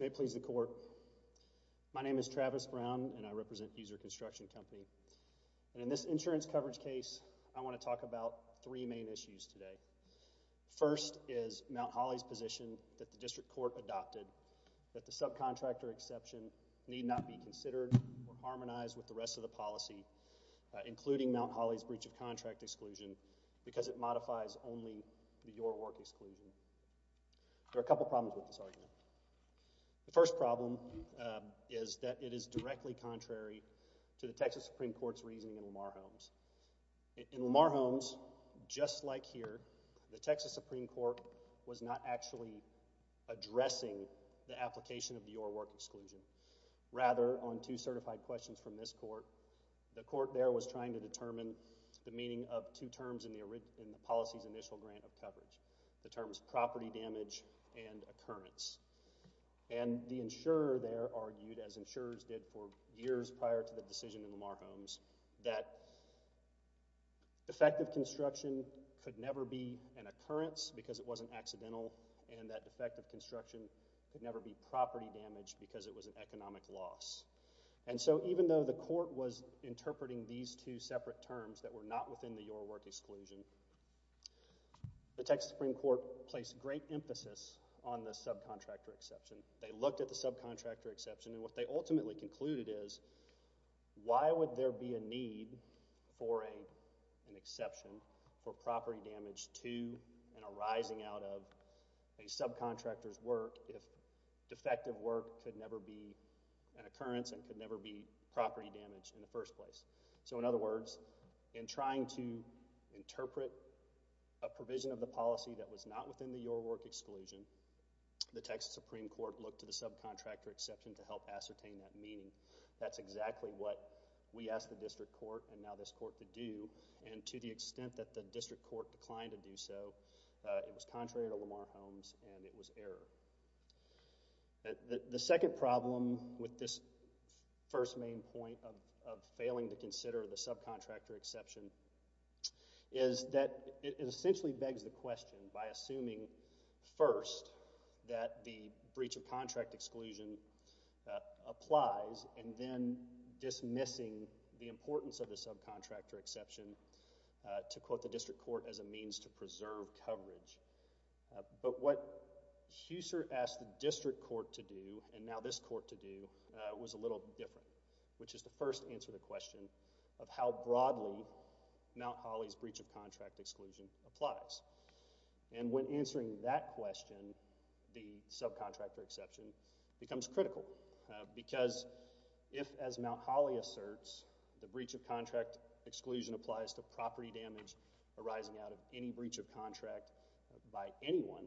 May it please the Court, my name is Travis Brown, and I represent Huser Construction Company. In this insurance coverage case, I want to talk about three main issues today. First is Mount Hawley's position that the District Court adopted that the subcontractor exception need not be considered or harmonized with the rest of the policy, including Mount Hawley's subcontractor exclusion because it modifies only the Your Work exclusion. There are a couple problems with this argument. The first problem is that it is directly contrary to the Texas Supreme Court's reasoning in Lamar Holmes. In Lamar Holmes, just like here, the Texas Supreme Court was not actually addressing the application of the Your Work exclusion. Rather, on two certified questions from this Court, the Court there was trying to determine the meaning of two terms in the policy's initial grant of coverage. The terms property damage and occurrence. And the insurer there argued, as insurers did for years prior to the decision in Lamar Holmes, that defective construction could never be an occurrence because it wasn't accidental, and that defective construction could never be property damage because it were not within the Your Work exclusion. The Texas Supreme Court placed great emphasis on the subcontractor exception. They looked at the subcontractor exception, and what they ultimately concluded is, why would there be a need for an exception for property damage to and arising out of a subcontractor's work if defective work could never be an occurrence and could never be property damage in the first place? So, in other words, in trying to interpret a provision of the policy that was not within the Your Work exclusion, the Texas Supreme Court looked to the subcontractor exception to help ascertain that meaning. That's exactly what we asked the District Court, and now this Court, to do. And to the extent that the District Court declined to do so, it was contrary to Lamar Holmes and it was error. The second problem with this first main point of failing to consider the subcontractor exception is that it essentially begs the question, by assuming first that the breach of contract exclusion applies and then dismissing the importance of the subcontractor exception, to quote the District Court as a means to preserve coverage. But what Husser asked the District Court to do, and now this Court to do, was a little different, which is to first answer the question of how broadly Mount Holly's breach of contract exclusion applies. And when answering that question, the subcontractor exception becomes critical because if, as Mount Holly asserts, the breach of contract exclusion applies to property damage arising out of any breach of contract by anyone,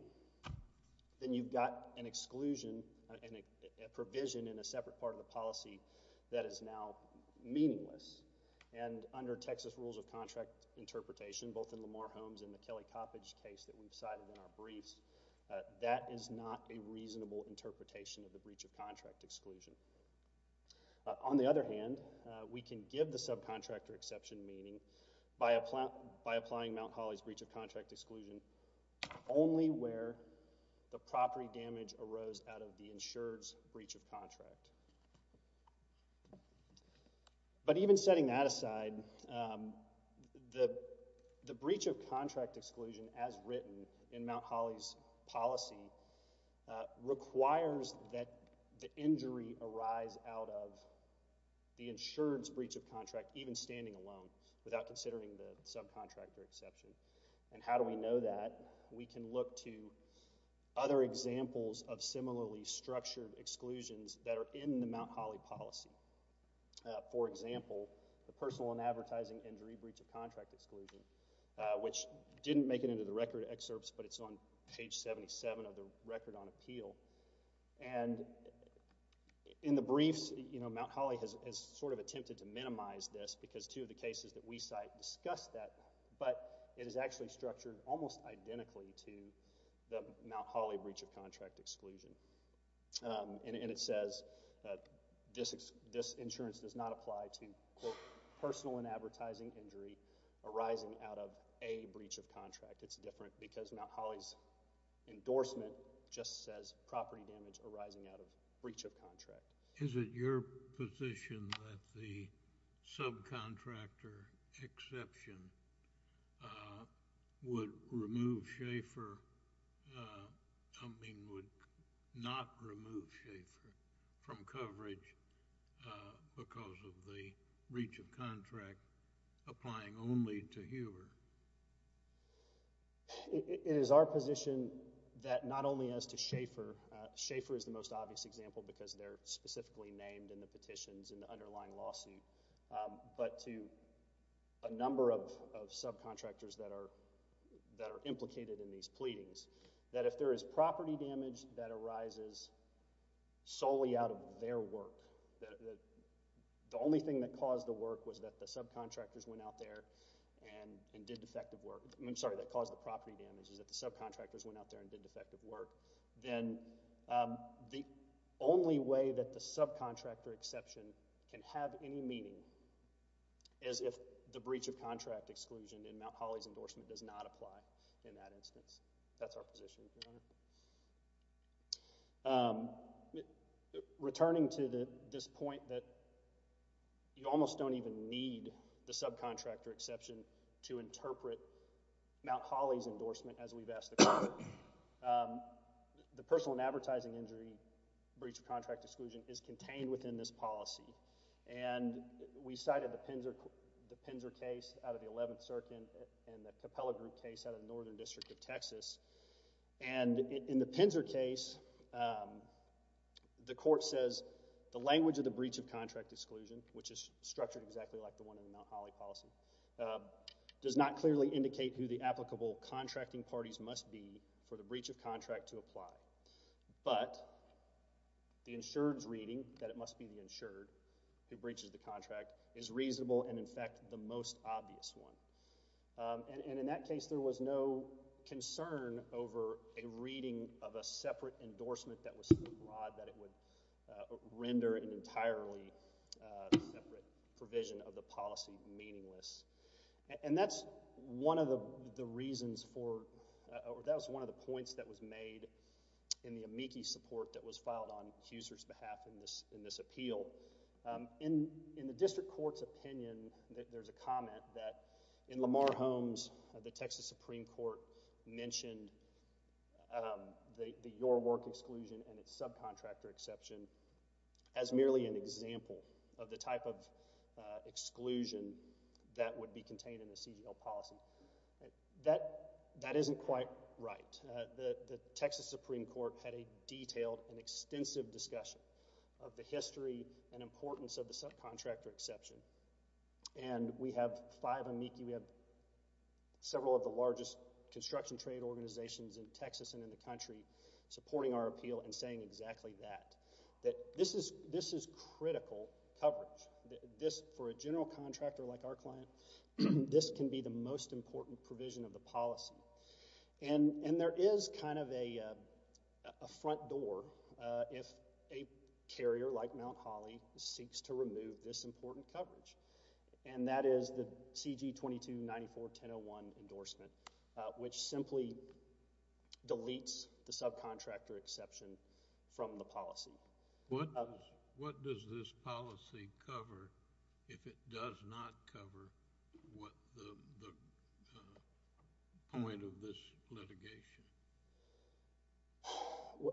then you've got an exclusion, a provision in a separate part of the policy that is now meaningless. And under Texas rules of contract interpretation, both in Lamar Holmes and the Kelly Coppedge case that we've not a reasonable interpretation of the breach of contract exclusion. On the other hand, we can give the subcontractor exception meaning by applying Mount Holly's breach of contract exclusion only where the property damage arose out of the insurer's breach of contract. But requires that the injury arise out of the insurer's breach of contract, even standing alone, without considering the subcontractor exception. And how do we know that? We can look to other examples of similarly structured exclusions that are in the Mount Holly policy. For example, the personal and advertising injury breach of contract exclusion, which didn't make it into the record excerpts, but it's on page 77 of the record on appeal. And in the briefs, you know, Mount Holly has sort of attempted to minimize this because two of the cases that we cite discussed that, but it is actually structured almost identically to the Mount Holly breach of contract exclusion. And it says that this insurance does not apply to personal and advertising injury arising out of a breach of contract. It's different because Mount Holly's endorsement just says property damage arising out of breach of contract. Is it your position that the subcontractor exception would remove Schaefer, I mean would not remove Schaefer from coverage because of the breach of contract applying only to Huber? It is our position that not only as to Schaefer, Schaefer is the most obvious example because they're specifically named in the petitions and the underlying lawsuit, but to a number of subcontractors that are implicated in these pleadings, that if there is property damage that arises solely out of their work, the only thing that caused the work was that the subcontractors went out there and did defective work. I'm sorry, that caused the property damage is that the subcontractors went out there and did defective work. Then the only way that the subcontractor exception can have any meaning is if the breach of contract exclusion in Mount Holly's endorsement does not apply in that instance. That's our position, Your Honor. Returning to this point that you almost don't even need the subcontractor exception to interpret Mount Holly's endorsement as we've asked the court. The personal and advertising injury breach of contract exclusion is contained within this policy and we cited the Pinser case out of the 11th Circuit and the Capella Group case out of the Northern District of Texas. In the Pinser case, the court says the language of the breach of contract exclusion, which is structured exactly like the one in the Mount Holly policy, does not clearly indicate who the applicable contracting parties must be for the breach of contract to apply. But the insured's reading that it must be the insured who breaches the contract is reasonable and, in fact, the most obvious one. And in that case, there was no concern over a reading of a separate endorsement that was abroad that it would render an entirely separate provision of the policy meaningless. And that's one of the reasons for—that was one of the points that was made in the amici support that was filed on Husserl's behalf in this case. In the court's opinion, there's a comment that in Lamar Holmes, the Texas Supreme Court mentioned the your work exclusion and its subcontractor exception as merely an example of the type of exclusion that would be contained in the CGL policy. That isn't quite right. The Texas Supreme Court had a detailed and extensive discussion of the history and importance of the subcontractor exception. And we have five amici. We have several of the largest construction trade organizations in Texas and in the country supporting our appeal and saying exactly that. That this is critical coverage. This, for a general contractor like our client, this can be the most important provision of the policy. And there is kind of a front door if a carrier like Mount Holly seeks to remove this important coverage. And that is the CG 2294-1001 endorsement, which simply deletes the subcontractor exception from the policy. What does this policy cover if it does not cover what the point of this is?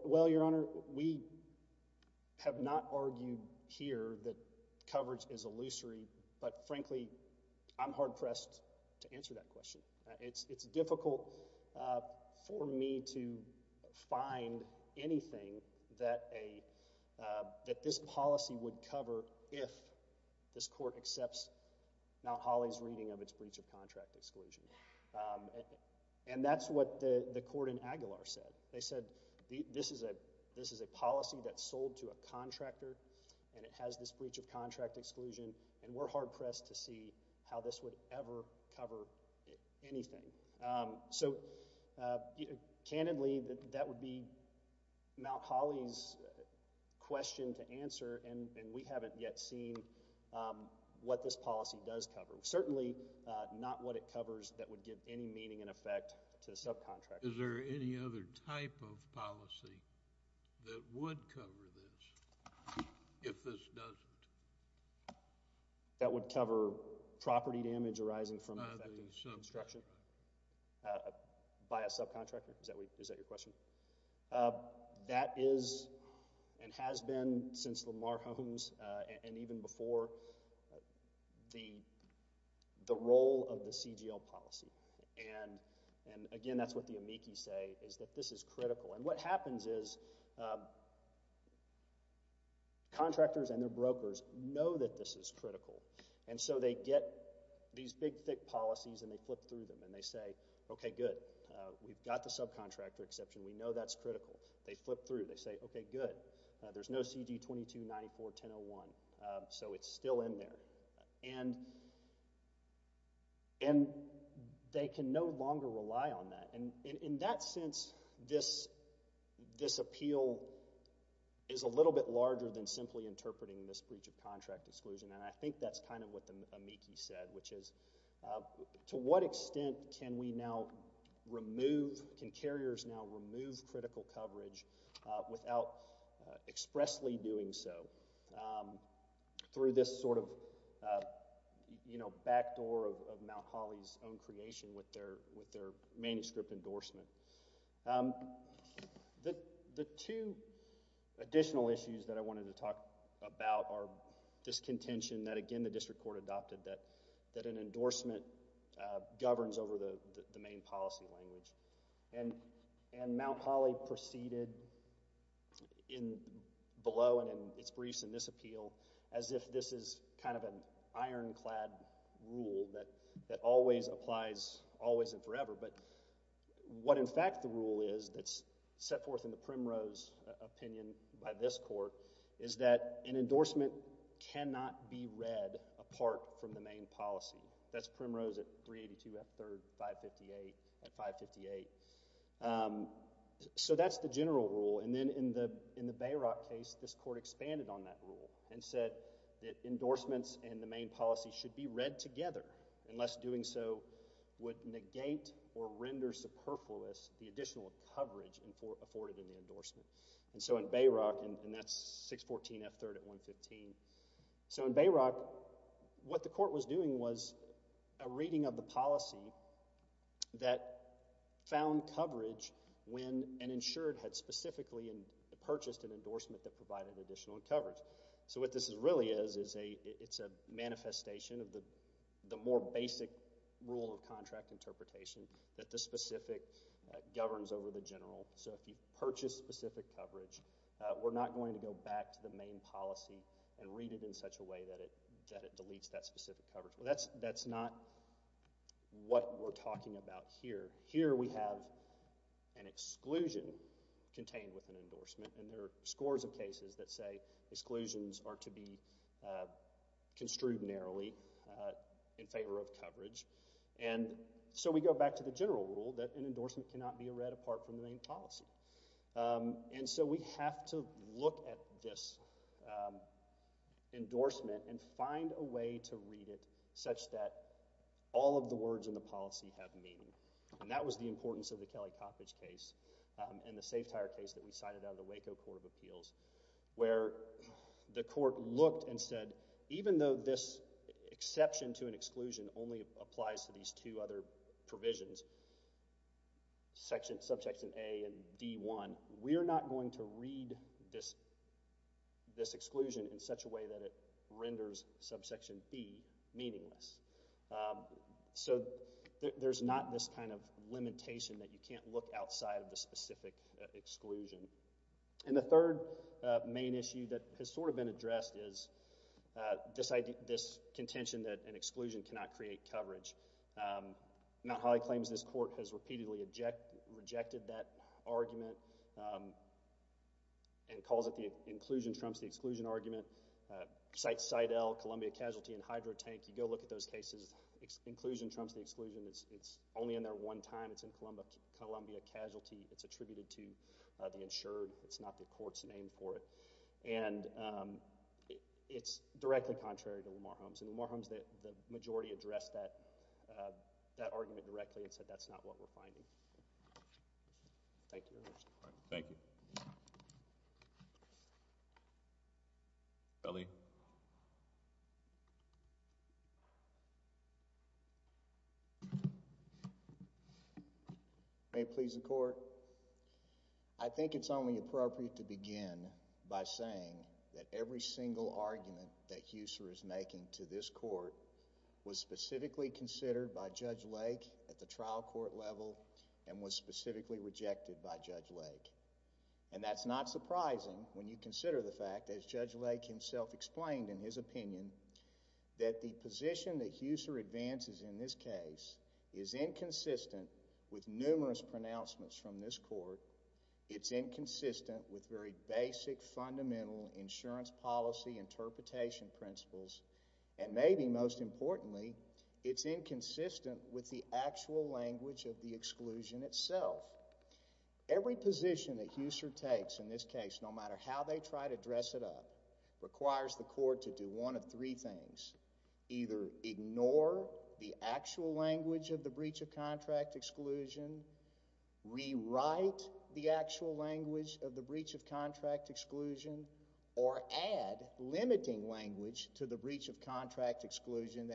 Well, Your Honor, we have not argued here that coverage is illusory. But frankly, I'm hard-pressed to answer that question. It's difficult for me to find anything that this policy would cover if this court accepts Mount Holly's reading of its breach of contract exclusion. And that's what the court in Aguilar said. They said this is a policy that's sold to a contractor and it has this breach of contract exclusion. And we're hard-pressed to see how this would ever cover anything. So, candidly, that would be Mount Holly's question to answer, and we haven't yet seen what this policy does cover. Certainly not what it covers that would give any meaning and effect to a subcontractor. Is there any other type of policy that would cover this if this doesn't? That would cover property damage arising from an effective construction by a subcontractor? Is that your question? That is and has been since Lamar Holmes and even before the role of the CGL policy. And again, that's what the amici say, is that this is critical. And what happens is contractors and their brokers know that this is critical. And so they get these big, thick policies and they flip through them. And they say, okay, good. We've got the subcontractor exception. We know that's critical. They flip through. They say, okay, good. There's no CD 2294-1001. So it's still in there. And they can no longer rely on that. And in that sense, this appeal is a little bit larger than simply interpreting this breach of contract exclusion. And I think that's kind of what the amici said, which is to what extent can we now remove, can carriers now remove critical coverage without expressly doing so through this sort of backdoor of Mount Holly's own creation with their manuscript endorsement. The two additional issues that I wanted to talk about are this contention that, again, the district court adopted, that an endorsement governs over the main policy language. And Mount Holly proceeded in below and in its briefs in this appeal as if this is kind of an ironclad rule that always applies, always and forever. But what, in fact, the rule is that's set forth in the is that an endorsement cannot be read apart from the main policy. That's Primrose at 382 F. 3rd, 558 at 558. So that's the general rule. And then in the Bayrock case, this court expanded on that rule and said that endorsements and the main policy should be read together unless doing so would negate or render superfluous the additional coverage afforded in the endorsement. And so in Bayrock, and that's 614 F. 3rd at 115. So in Bayrock, what the court was doing was a reading of the policy that found coverage when an insured had specifically purchased an endorsement that provided additional coverage. So what this really is, it's a manifestation of the more basic rule of contract interpretation that the specific governs over the general. So if you purchase specific coverage, we're not going to go back to the main policy and read it in such a way that it deletes that specific coverage. That's not what we're talking about here. Here we have an exclusion contained with an endorsement, and there are scores of cases that say exclusions are to be construed narrowly in favor of coverage. And so we go back to the general rule that an endorsement cannot be read apart from the main policy. And so we have to look at this endorsement and find a way to read it such that all of the words in the policy have meaning. And that was the importance of the Kelly Coppedge case and the Safetire case that we cited out of the Waco Court of Appeals, where the court looked and said, even though this exception to an exclusion only applies to these two other provisions, subsection A and D1, we are not going to read this exclusion in such a way that it renders subsection B meaningless. So there's not this kind of limitation that you can't look outside of the specific exclusion. And the third main issue that has sort of been addressed is this contention that an exclusion cannot create coverage. Mount Holly claims this court has repeatedly rejected that argument and calls it the inclusion trumps the exclusion argument. Cite Cidel, Columbia Casualty, and Hydro Tank. You go look at those cases. Inclusion trumps the exclusion. It's only in there one time. It's in Columbia Casualty. It's attributed to the insured. It's not the court's name for it. And it's directly contrary to Lamar Holmes. And Lamar Holmes, the majority addressed that argument directly and said that's not what we're finding. Thank you. All right. Thank you. Ellie. May it please the court. I think it's only appropriate to begin by saying that every single argument that Husserl is making to this court was specifically considered by Judge Lake. And that's not surprising when you consider the fact, as Judge Lake himself explained in his opinion, that the position that Husserl advances in this case is inconsistent with numerous pronouncements from this court. It's inconsistent with very basic fundamental insurance policy interpretation principles. And maybe most importantly, it's inconsistent with the actual language of the exclusion itself. Every position that Husserl takes in this case, no matter how they try to dress it up, requires the court to do one of three things. Either ignore the actual language of the breach of contract exclusion, rewrite the actual language of the breach of contract exclusion, or add limiting language to the language of the breach of contract exclusion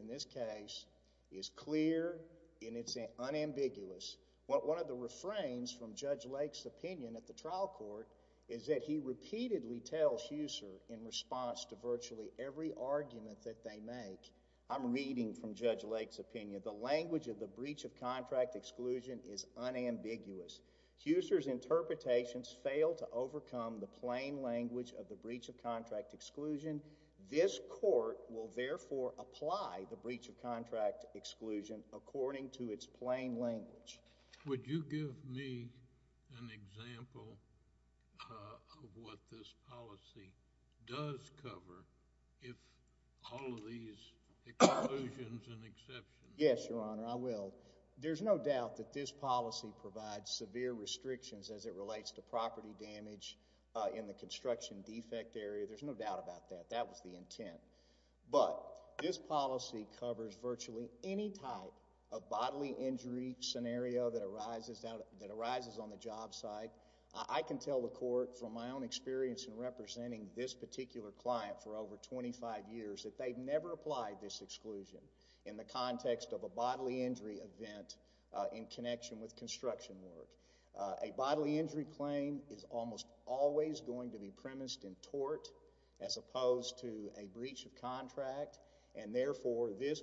in this case is clear and it's unambiguous. One of the refrains from Judge Lake's opinion at the trial court is that he repeatedly tells Husserl in response to virtually every argument that they make, I'm reading from Judge Lake's opinion, the language of the breach of contract exclusion is unambiguous. Husserl's interpretations fail to overcome the plain language of the breach of contract exclusion. This court will therefore apply the breach of contract exclusion according to its plain language. Would you give me an example of what this policy does cover if all of these exclusions and exceptions? Yes, Your Honor, I will. There's no doubt that this policy provides severe restrictions as it relates to property damage in the construction defect area. There's no doubt about that. That was the intent. But this policy covers virtually any type of bodily injury scenario that arises on the job site. I can tell the court from my own experience in representing this particular client for over 25 years that they've never applied this to construction work. A bodily injury claim is almost always going to be premised in tort as opposed to a breach of contract, and therefore this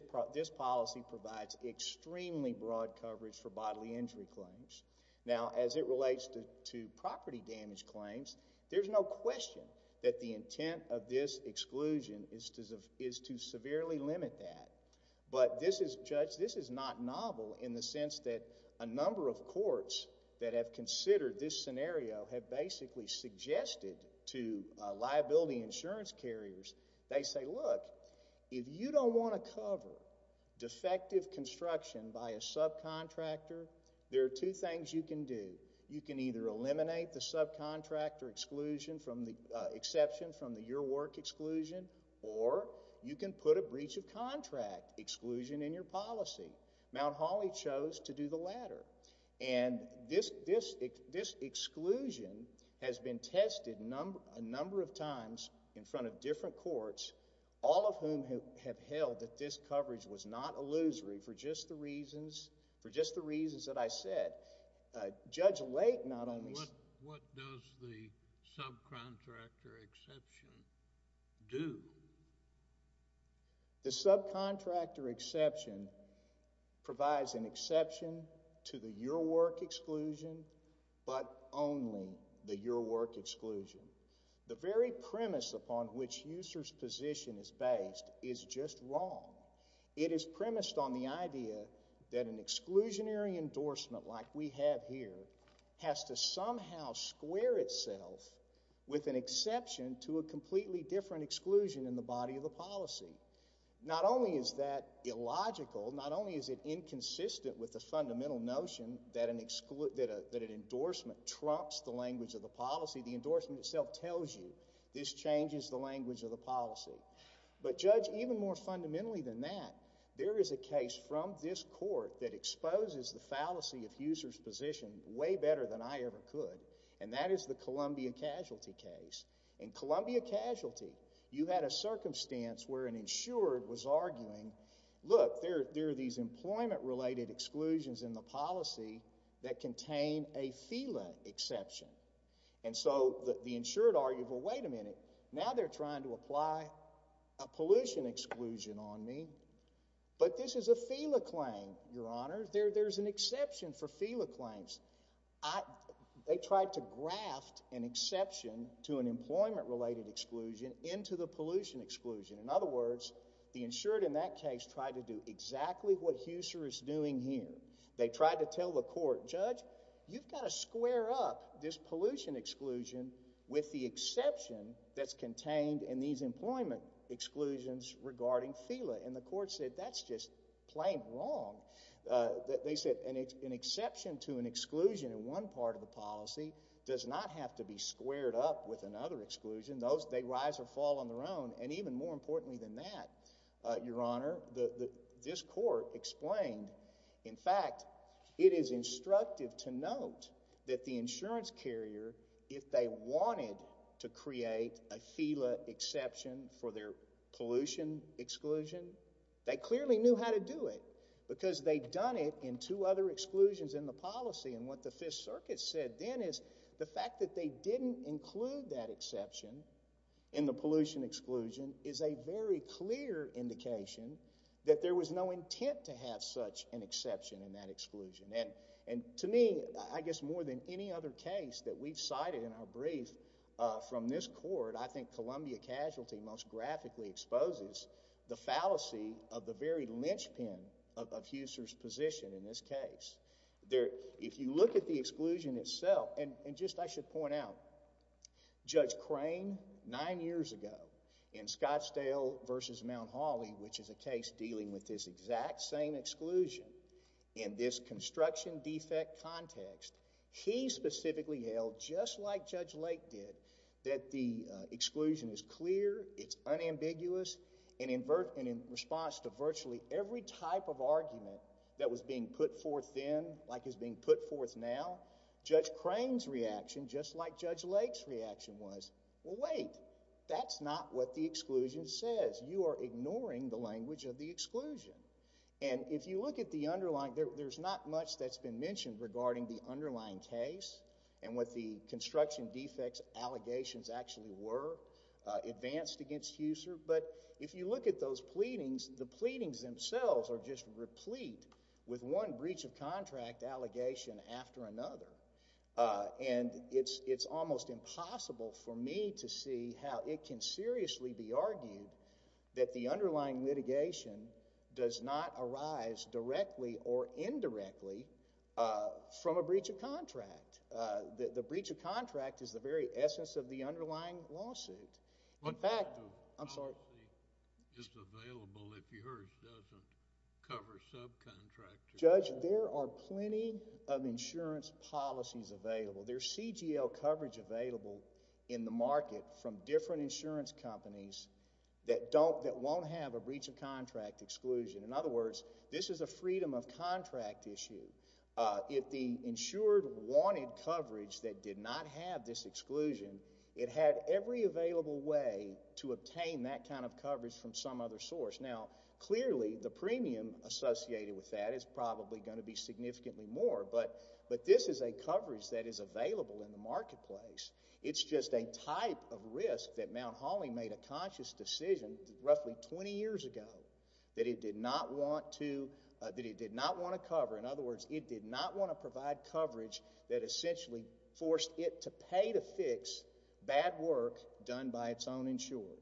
policy provides extremely broad coverage for bodily injury claims. Now, as it relates to property damage claims, there's no question that the intent of this exclusion is to severely limit that. But this is, Judge, this is not novel in the sense that a number of courts that have considered this scenario have basically suggested to liability insurance carriers, they say, look, if you don't want to cover defective construction by a subcontractor, there are two things you can do. You can either eliminate the subcontractor exception from the your work exclusion, or you can put a subcontractor exception on the subcontractor exception, and then the subcontractor exception is not a losery. And so, in this case, the subcontractor exception was not a losery. Mount Holly chose to do the latter. And this exclusion has been tested a number of times in front of different courts, all of whom have held that this coverage was not a losery provides an exception to the your work exclusion, but only the your work exclusion. The very premise upon which Usar's position is based is just wrong. It is premised on the idea that an exclusionary endorsement like we have here has to somehow square itself with an exception to a completely different exclusion in the body of the policy. Not only is that inconsistent with the fundamental notion that an endorsement trumps the language of the policy, the endorsement itself tells you this changes the language of the policy. But Judge, even more fundamentally than that, there is a case from this court that exposes the fallacy of Usar's position way better than I ever could, and that is the Columbia Casualty case. In Columbia Casualty, you had a circumstance where an insurer was arguing, look, there are these employment-related exclusions in the policy that contain a FELA exception. And so the insured argued, well, wait a minute, now they're trying to apply a pollution exclusion on me, but this is a FELA claim, Your Honor. There's an exception for FELA claims. They tried to graft an exception to an employment-related exclusion into the pollution exclusion. In other words, the insured in that case tried to do exactly what Usar is doing here. They tried to tell the court, Judge, you've got to square up this pollution exclusion with the exception that's contained in these employment exclusions regarding FELA. And the court said, that's just plain wrong. They said an exception to an exclusion in one part of the policy does not have to be squared up with another exclusion. They rise or fall on their own. And even more importantly than that, Your Honor, this court explained, in fact, it is instructive to note that the insurance carrier, if they wanted to create a FELA exception for their pollution exclusion, they clearly knew how to do it, because they'd done it in two other exclusions in the policy. And what the Fifth Circuit said then is the fact that they didn't include that exception in the pollution exclusion is a very clear indication that there was no intent to have such an exception in that exclusion. And to me, I guess more than any other case that we've cited in our brief from this court, I think Columbia Casualty most graphically exposes the fallacy of the very linchpin of Usar's position in this case. There, if you look at the exclusion itself, and just I should point out, Judge Crane nine years ago in Scottsdale v. Mount Holly, which is a case dealing with this exact same exclusion in this construction defect context, he specifically held, just like Judge Lake did, that the exclusion is clear, it's unambiguous, and in response to virtually every type of argument that was being put forth then, like is being put forth now, Judge Crane's reaction, just like Judge Lake's reaction was, well wait, that's not what the exclusion says. You are ignoring the language of the exclusion. And if you look at the underlying, there's not much that's been mentioned regarding the underlying case, and what the construction defects allegations actually were, advanced against Usar, but if you look at those pleadings, the pleadings themselves are just replete with one breach of contract allegation after another, and it's almost impossible for me to see how it can seriously be argued that the underlying litigation does not arise directly or indirectly from a breach of contract. The breach of contract is the very essence of the underlying lawsuit. In fact, I'm sorry. The insurance policy is available if yours doesn't cover subcontractors. Judge, there are plenty of insurance policies available. There's CGL coverage available in the market from different insurance companies that don't, that won't have a breach of contract exclusion. In other words, this is a freedom of contract issue. If the insured wanted coverage that did not have this exclusion, it had every available way to obtain that kind of coverage from some other source. Now, clearly, the premium associated with that is probably going to be significantly more, but this is a coverage that is available in the marketplace. It's just a type of risk that Mount Holly made a conscious decision roughly 20 years ago that it did not want to, that it did not want to cover. In other words, it did not want to provide coverage that essentially forced it to pay to fix bad work done by its own insured.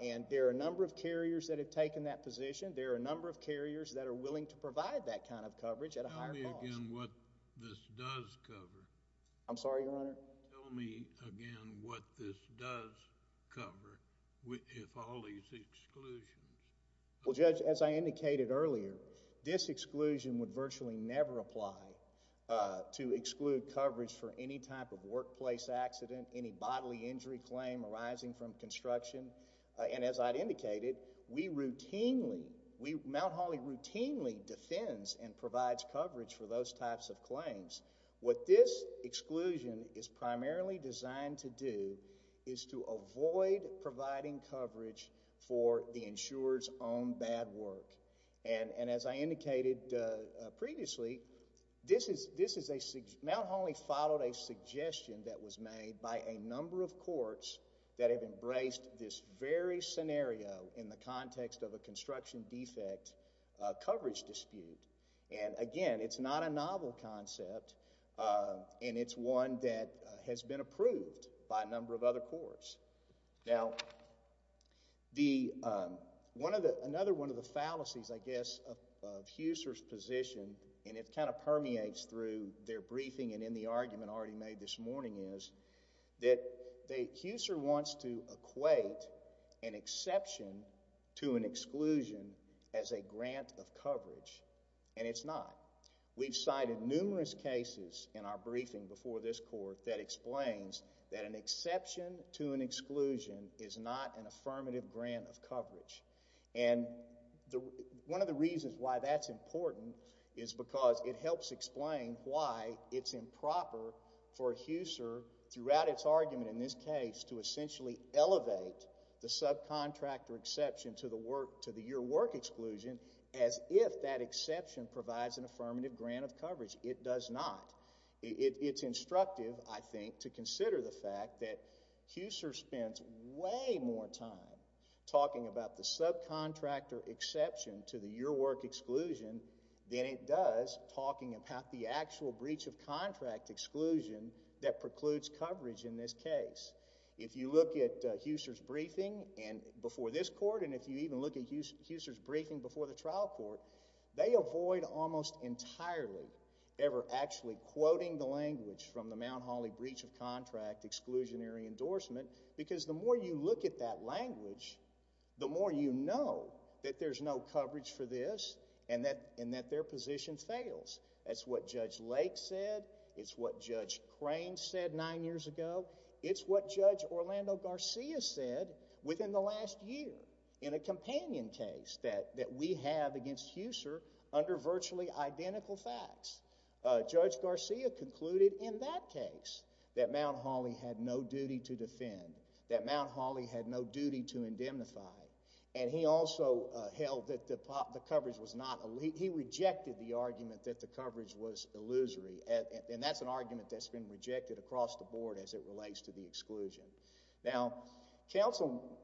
And there are a number of carriers that have taken that position. There are a number of carriers that are willing to provide that kind of coverage at a higher cost. Tell me again what this does cover. I'm sorry, Your Honor? Tell me again what this does cover with all these exclusions. Well, Judge, as I indicated earlier, this exclusion would virtually never apply to exclude coverage for any type of workplace accident, any bodily injury claim arising from construction. And as I indicated, we routinely, Mount Holly routinely defends and provides coverage for those types of claims. What this exclusion is primarily designed to do is to avoid providing coverage for the insurer's own bad work. And as I indicated previously, this is a, Mount Holly followed a suggestion that was made by a number of courts that have embraced this very scenario in the context of a construction defect coverage dispute. And again, it's not a novel concept and it's one that has been approved by a number of other courts. Now, another one of the fallacies, I guess, of HUSER's position, and it kind of permeates through their briefing and in the argument already made this morning, is that HUSER wants to equate an exception to an exclusion as a grant of coverage. And it's not. We've cited numerous cases in our briefing before this Court that explains that an exception to an exclusion is not an affirmative grant of coverage. And one of the reasons why that's important is because it helps explain why it's improper for HUSER, throughout its argument in this case, to essentially elevate the subcontractor exception to the work, to the year work exclusion, as if that exception provides an affirmative grant of coverage. It does not. It's instructive, I think, to consider the fact that HUSER spends way more time talking about the subcontractor exception to the year work exclusion than it does talking about the actual breach of contract exclusion that precludes coverage in this case. If you look at HUSER's briefing before this Court, and if you even look at HUSER's briefing before the trial court, they avoid almost entirely ever actually quoting the language from the Mount Holly breach of contract exclusionary endorsement, because the more you look at that language, the more you know that there's no coverage for this and that their position fails. That's what Judge Lake said. It's what Judge Crane said nine years ago. It's what Judge Orlando Garcia said within the last year in a companion case that we have against HUSER under virtually identical facts. Judge Garcia concluded in that case that Mount Holly had no duty to defend, that Mount Holly had no duty to indemnify, and he also held that the coverage was not —he rejected the argument that the coverage was illusory, and that's an argument that's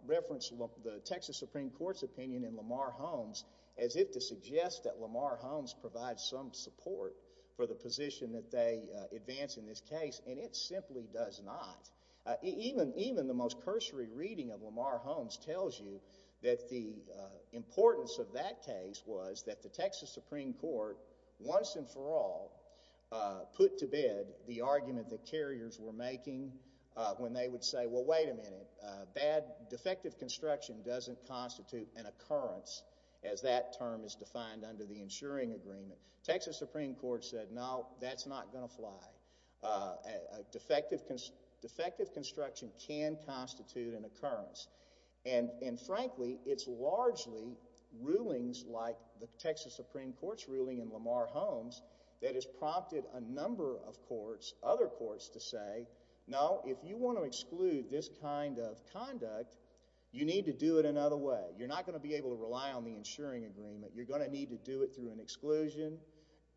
reference to the Texas Supreme Court's opinion in Lamar Holmes as if to suggest that Lamar Holmes provides some support for the position that they advance in this case, and it simply does not. Even the most cursory reading of Lamar Holmes tells you that the importance of that case was that the Texas Supreme Court, once and for all, put to bed the argument the carriers were making when they would say, well, wait a minute. Defective construction doesn't constitute an occurrence, as that term is defined under the insuring agreement. Texas Supreme Court said, no, that's not going to fly. Defective construction can constitute an occurrence, and frankly, it's largely rulings like the Texas Supreme Court's ruling in Lamar Holmes to say, no, if you want to exclude this kind of conduct, you need to do it another way. You're not going to be able to rely on the insuring agreement. You're going to need to do it through an exclusion,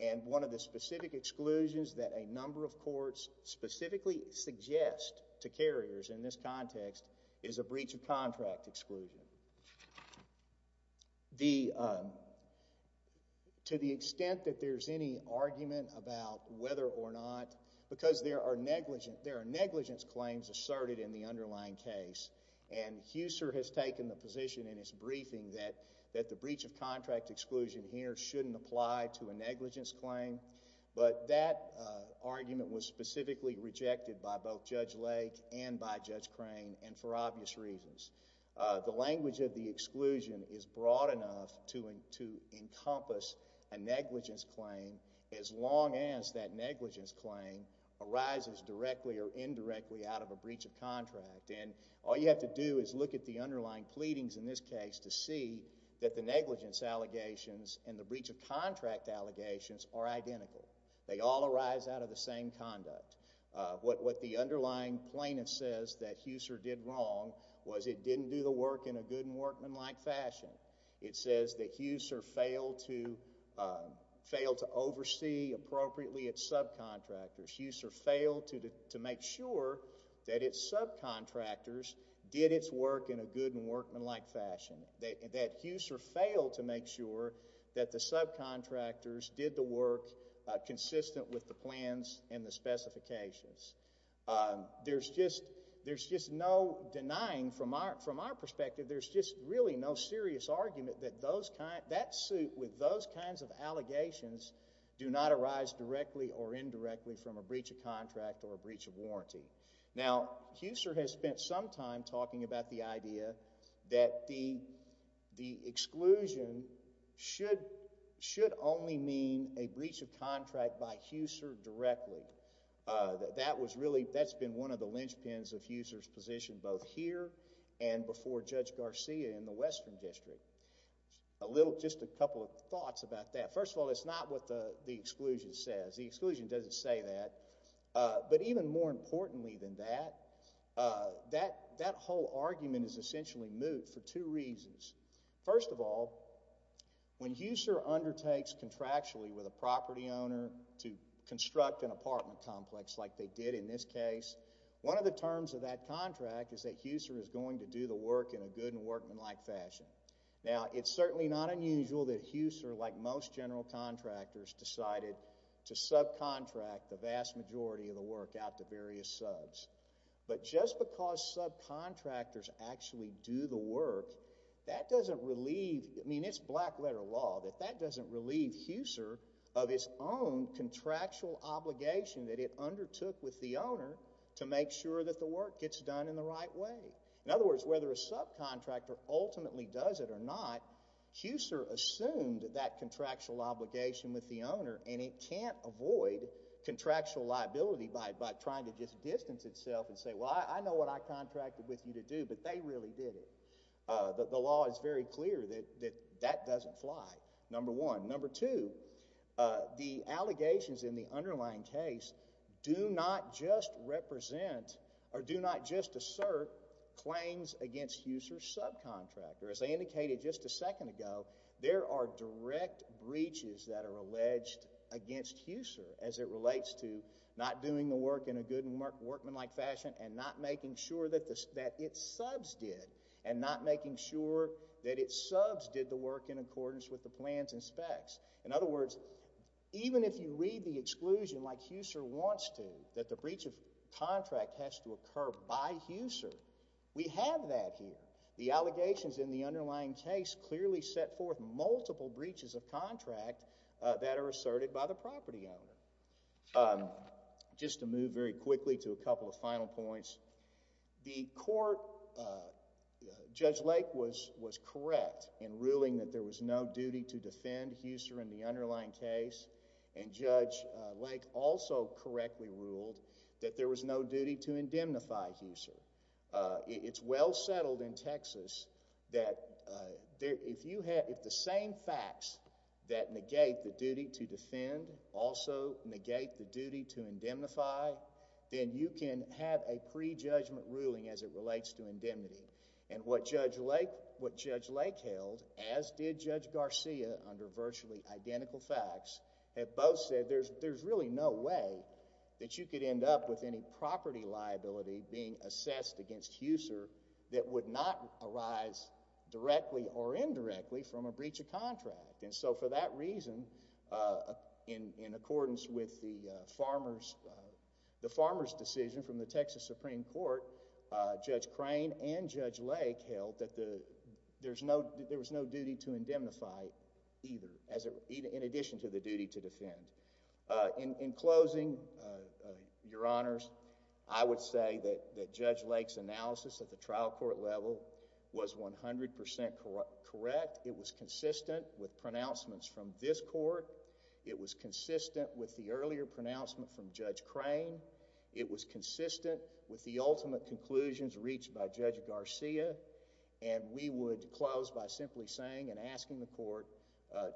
and one of the specific exclusions that a number of courts specifically suggest to carriers in this context is a breach of contract exclusion. To the extent that there's any argument about whether or not, because there are negligence claims asserted in the underlying case, and HUSER has taken the position in its briefing that the breach of contract exclusion here shouldn't apply to a negligence claim, but that argument was specifically rejected by both Judge Lake and by Judge Crane, and for HUSER, the language of the exclusion is broad enough to encompass a negligence claim as long as that negligence claim arises directly or indirectly out of a breach of contract, and all you have to do is look at the underlying pleadings in this case to see that the negligence allegations and the breach of contract allegations are identical. They all arise out of the same conduct. What the underlying plaintiff says that HUSER did wrong was it didn't do the work in a good and workmanlike fashion. It says that HUSER failed to oversee appropriately its subcontractors. HUSER failed to make sure that its subcontractors did its work in a good and workmanlike fashion, that HUSER failed to make sure that the subcontractors did the work consistent with the plans and the specifications. There's just no denying from our perspective there's just really no serious argument that that suit with those kinds of allegations do not arise directly or indirectly from a breach of contract or a breach of warranty. Now HUSER has spent some time talking about the idea that the exclusion should only mean a breach of contract by HUSER directly. That's been one of the linchpins of HUSER's position both here and before Judge Garcia in the Western District. Just a couple of thoughts about that. First of all, it's not what the exclusion says. The exclusion doesn't say that. But even more importantly than that, that whole argument is essentially moot for two reasons. First of all, when HUSER undertakes contractually with a property owner to construct an apartment complex like they did in this case, one of the terms of that contract is that HUSER is going to do the work in a good and workmanlike fashion. Now it's certainly not unusual that HUSER, like most general contractors, decided to subcontract the vast majority of the work out to various subs. But just because subcontractors actually do the work, that doesn't relieve, I mean it's black letter law, that that doesn't relieve HUSER of its own contractual obligation that it undertook with the owner to make sure that the work gets done in the right way. In other words, whether a subcontractor ultimately does it or not, HUSER assumed that contractual obligation with the owner and it can't avoid contractual liability by trying to just distance itself and say, well, I know what I contracted with you to do, but they really did it. The law is very clear that that doesn't fly, number one. Number two, the allegations in the underlying case do not just represent or do not just assert claims against HUSER's subcontractor. As I indicated just a second ago, there are direct breaches that are alleged against HUSER as it relates to not doing the work in a good and workmanlike fashion and not making sure that its subs did and not making sure that its subs did the work in accordance with the plans and specs. In other words, even if you read the exclusion like HUSER wants to, that the breach of contract has to occur by HUSER, we have that here. The allegations in the underlying case clearly set forth multiple breaches of contract that are asserted by the property owner. Just to move very quickly to a couple of final points, the court, Judge Lake was correct in ruling that there was no duty to defend HUSER in the underlying case, and Judge Lake also correctly ruled that there was no duty to indemnify HUSER. It's well settled in Texas that if the same facts that negate the duty to defend also negate the duty to indemnify, then you can have a pre-judgment ruling as it relates to indemnity. And what Judge Lake held, as did Judge Garcia under virtually identical facts, have both said there's really no way that you could end up with any property liability being assessed against HUSER that would not arise directly or indirectly from a breach of contract. And so for that reason, in accordance with the farmer's decision from the Texas Supreme Court, Judge Crane and Judge Lake held that there was no duty to indemnify either, in addition to the duty to defend. In closing, Your Honors, I would say that Judge Lake's analysis at the trial court level was 100% correct. It was consistent with pronouncements from this court. It was consistent with the earlier pronouncement from Judge Crane. It was consistent with the ultimate conclusions reached by Judge Garcia. And we would close by simply saying and asking the court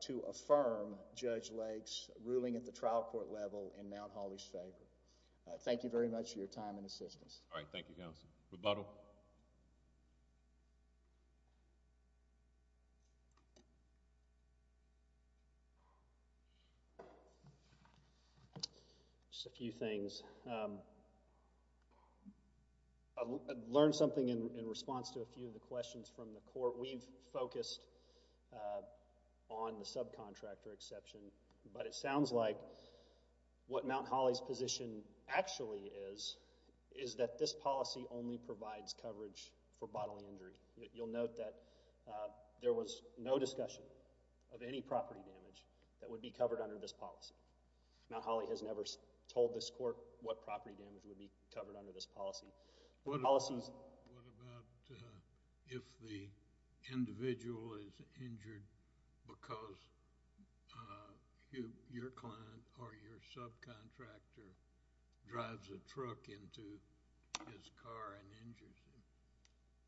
to affirm Judge Lake's analysis at the trial court level in Mount Holly's favor. Thank you very much for your time and assistance. All right. Thank you, Counsel. Rebuttal. Just a few things. I learned something in response to a few of the questions from the court. We've focused on the subcontractor exception, but it sounds like what Mount Holly's position actually is, is that this policy only provides coverage for bodily injury. You'll note that there was no discussion of any property damage that would be covered under this policy. Mount Holly has never told this court what property damage would be covered under this policy. What about if the individual is injured because your client or your subcontractor drives a truck into his car and injures him?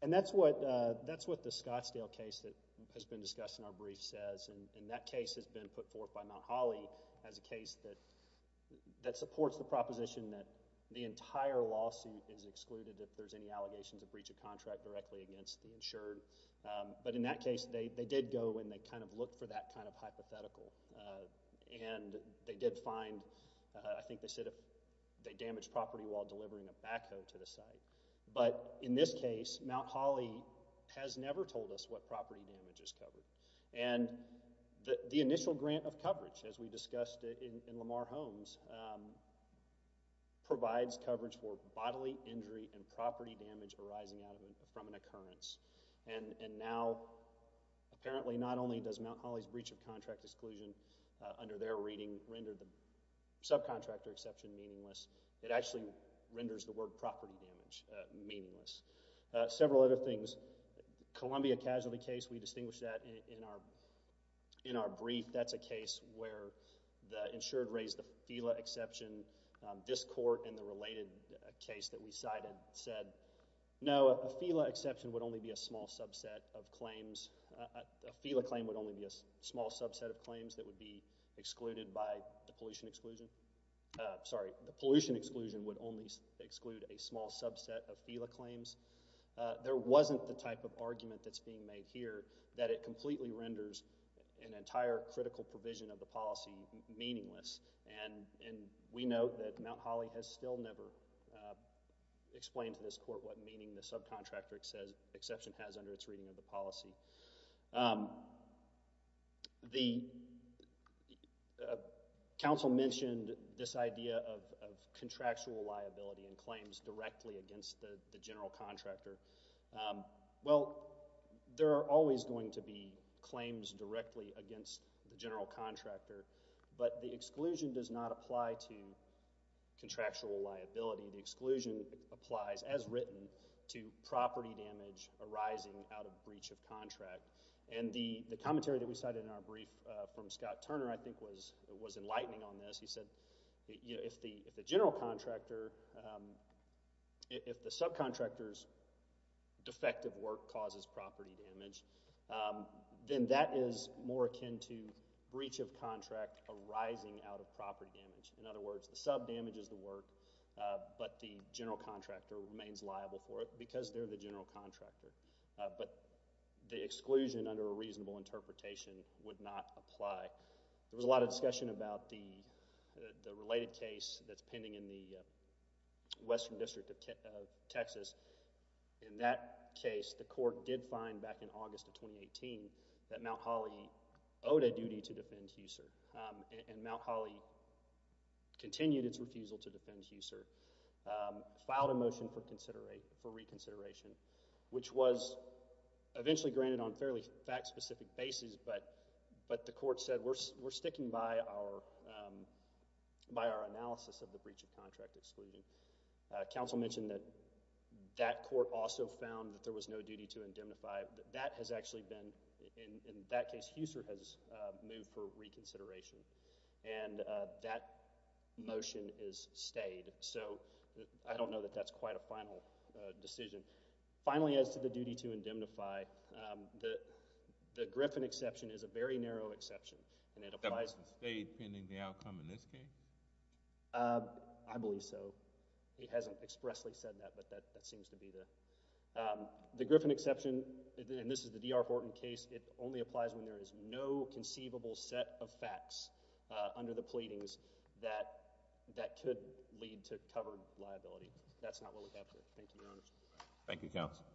And that's what the Scottsdale case that has been discussed in our brief says. And that case has been put forth by Mount Holly as a case that supports the proposition that the entire lawsuit is excluded if there's any allegations of breach of contract directly against the insured. But in that case, they did go and they kind of looked for that kind of hypothetical. And they did find, I think they said they damaged property while delivering a backhoe to the site. But in this case, Mount Holly has never told us what property damage is covered. And the initial grant of coverage, as we discussed in Lamar Holmes, provides coverage for bodily injury and property damage arising from an occurrence. And now, apparently not only does Mount Holly's breach of contract exclusion under their reading render the subcontractor exception meaningless, it actually renders the word property damage meaningless. Several other things. The Columbia casualty case, we distinguished that in our brief. That's a case where the insured raised the FELA exception. This court in the related case that we cited said, no, a FELA exception would only be a small subset of claims. A FELA claim would only be a small subset of claims that would be excluded by the pollution exclusion. Sorry, the pollution exclusion would only exclude a small subset of FELA claims. There wasn't the type of argument that's being made here that it completely renders an entire critical provision of the policy meaningless. And we note that Mount Holly has still never explained to this court what meaning the subcontractor exception has under its reading of the policy. The council mentioned this idea of contractual liability and claims directly against the general contractor. Well, there are always going to be claims directly against the general contractor, but the exclusion does not apply to contractual liability. And the commentary that we cited in our brief from Scott Turner, I think, was enlightening on this. He said, you know, if the general contractor, if the subcontractor's defective work causes property damage, then that is more akin to breach of contract arising out of property damage. In other words, the sub damages the work, but the general contractor remains liable for it because they're the general contractor. But the exclusion under a reasonable interpretation would not apply. There was a lot of discussion about the related case that's pending in the Western District of Texas. In that case, the court did find back in August of 2018 that Mount Holly owed a duty to defend HUSER, and Mount Holly continued its refusal to defend HUSER, filed a motion for reconsideration, which was eventually granted on a fairly fact-specific basis, but the court said, we're sticking by our analysis of the breach of contract exclusion. Council mentioned that that court also found that there was no duty to indemnify. That has actually been, in that case, HUSER has moved for reconsideration. And that motion is stayed, so I don't know that that's quite a final decision. Finally, as to the duty to indemnify, the Griffin exception is a very narrow exception, and it applies— That motion stayed pending the outcome in this case? I believe so. He hasn't expressly said that, but that seems to be the—the Griffin exception, and this is the D.R. Horton case, it only applies when there is no conceivable set of facts under the pleadings that—that could lead to covered liability. That's not what we have here. Thank you, Your Honors. Thank you, Counsel.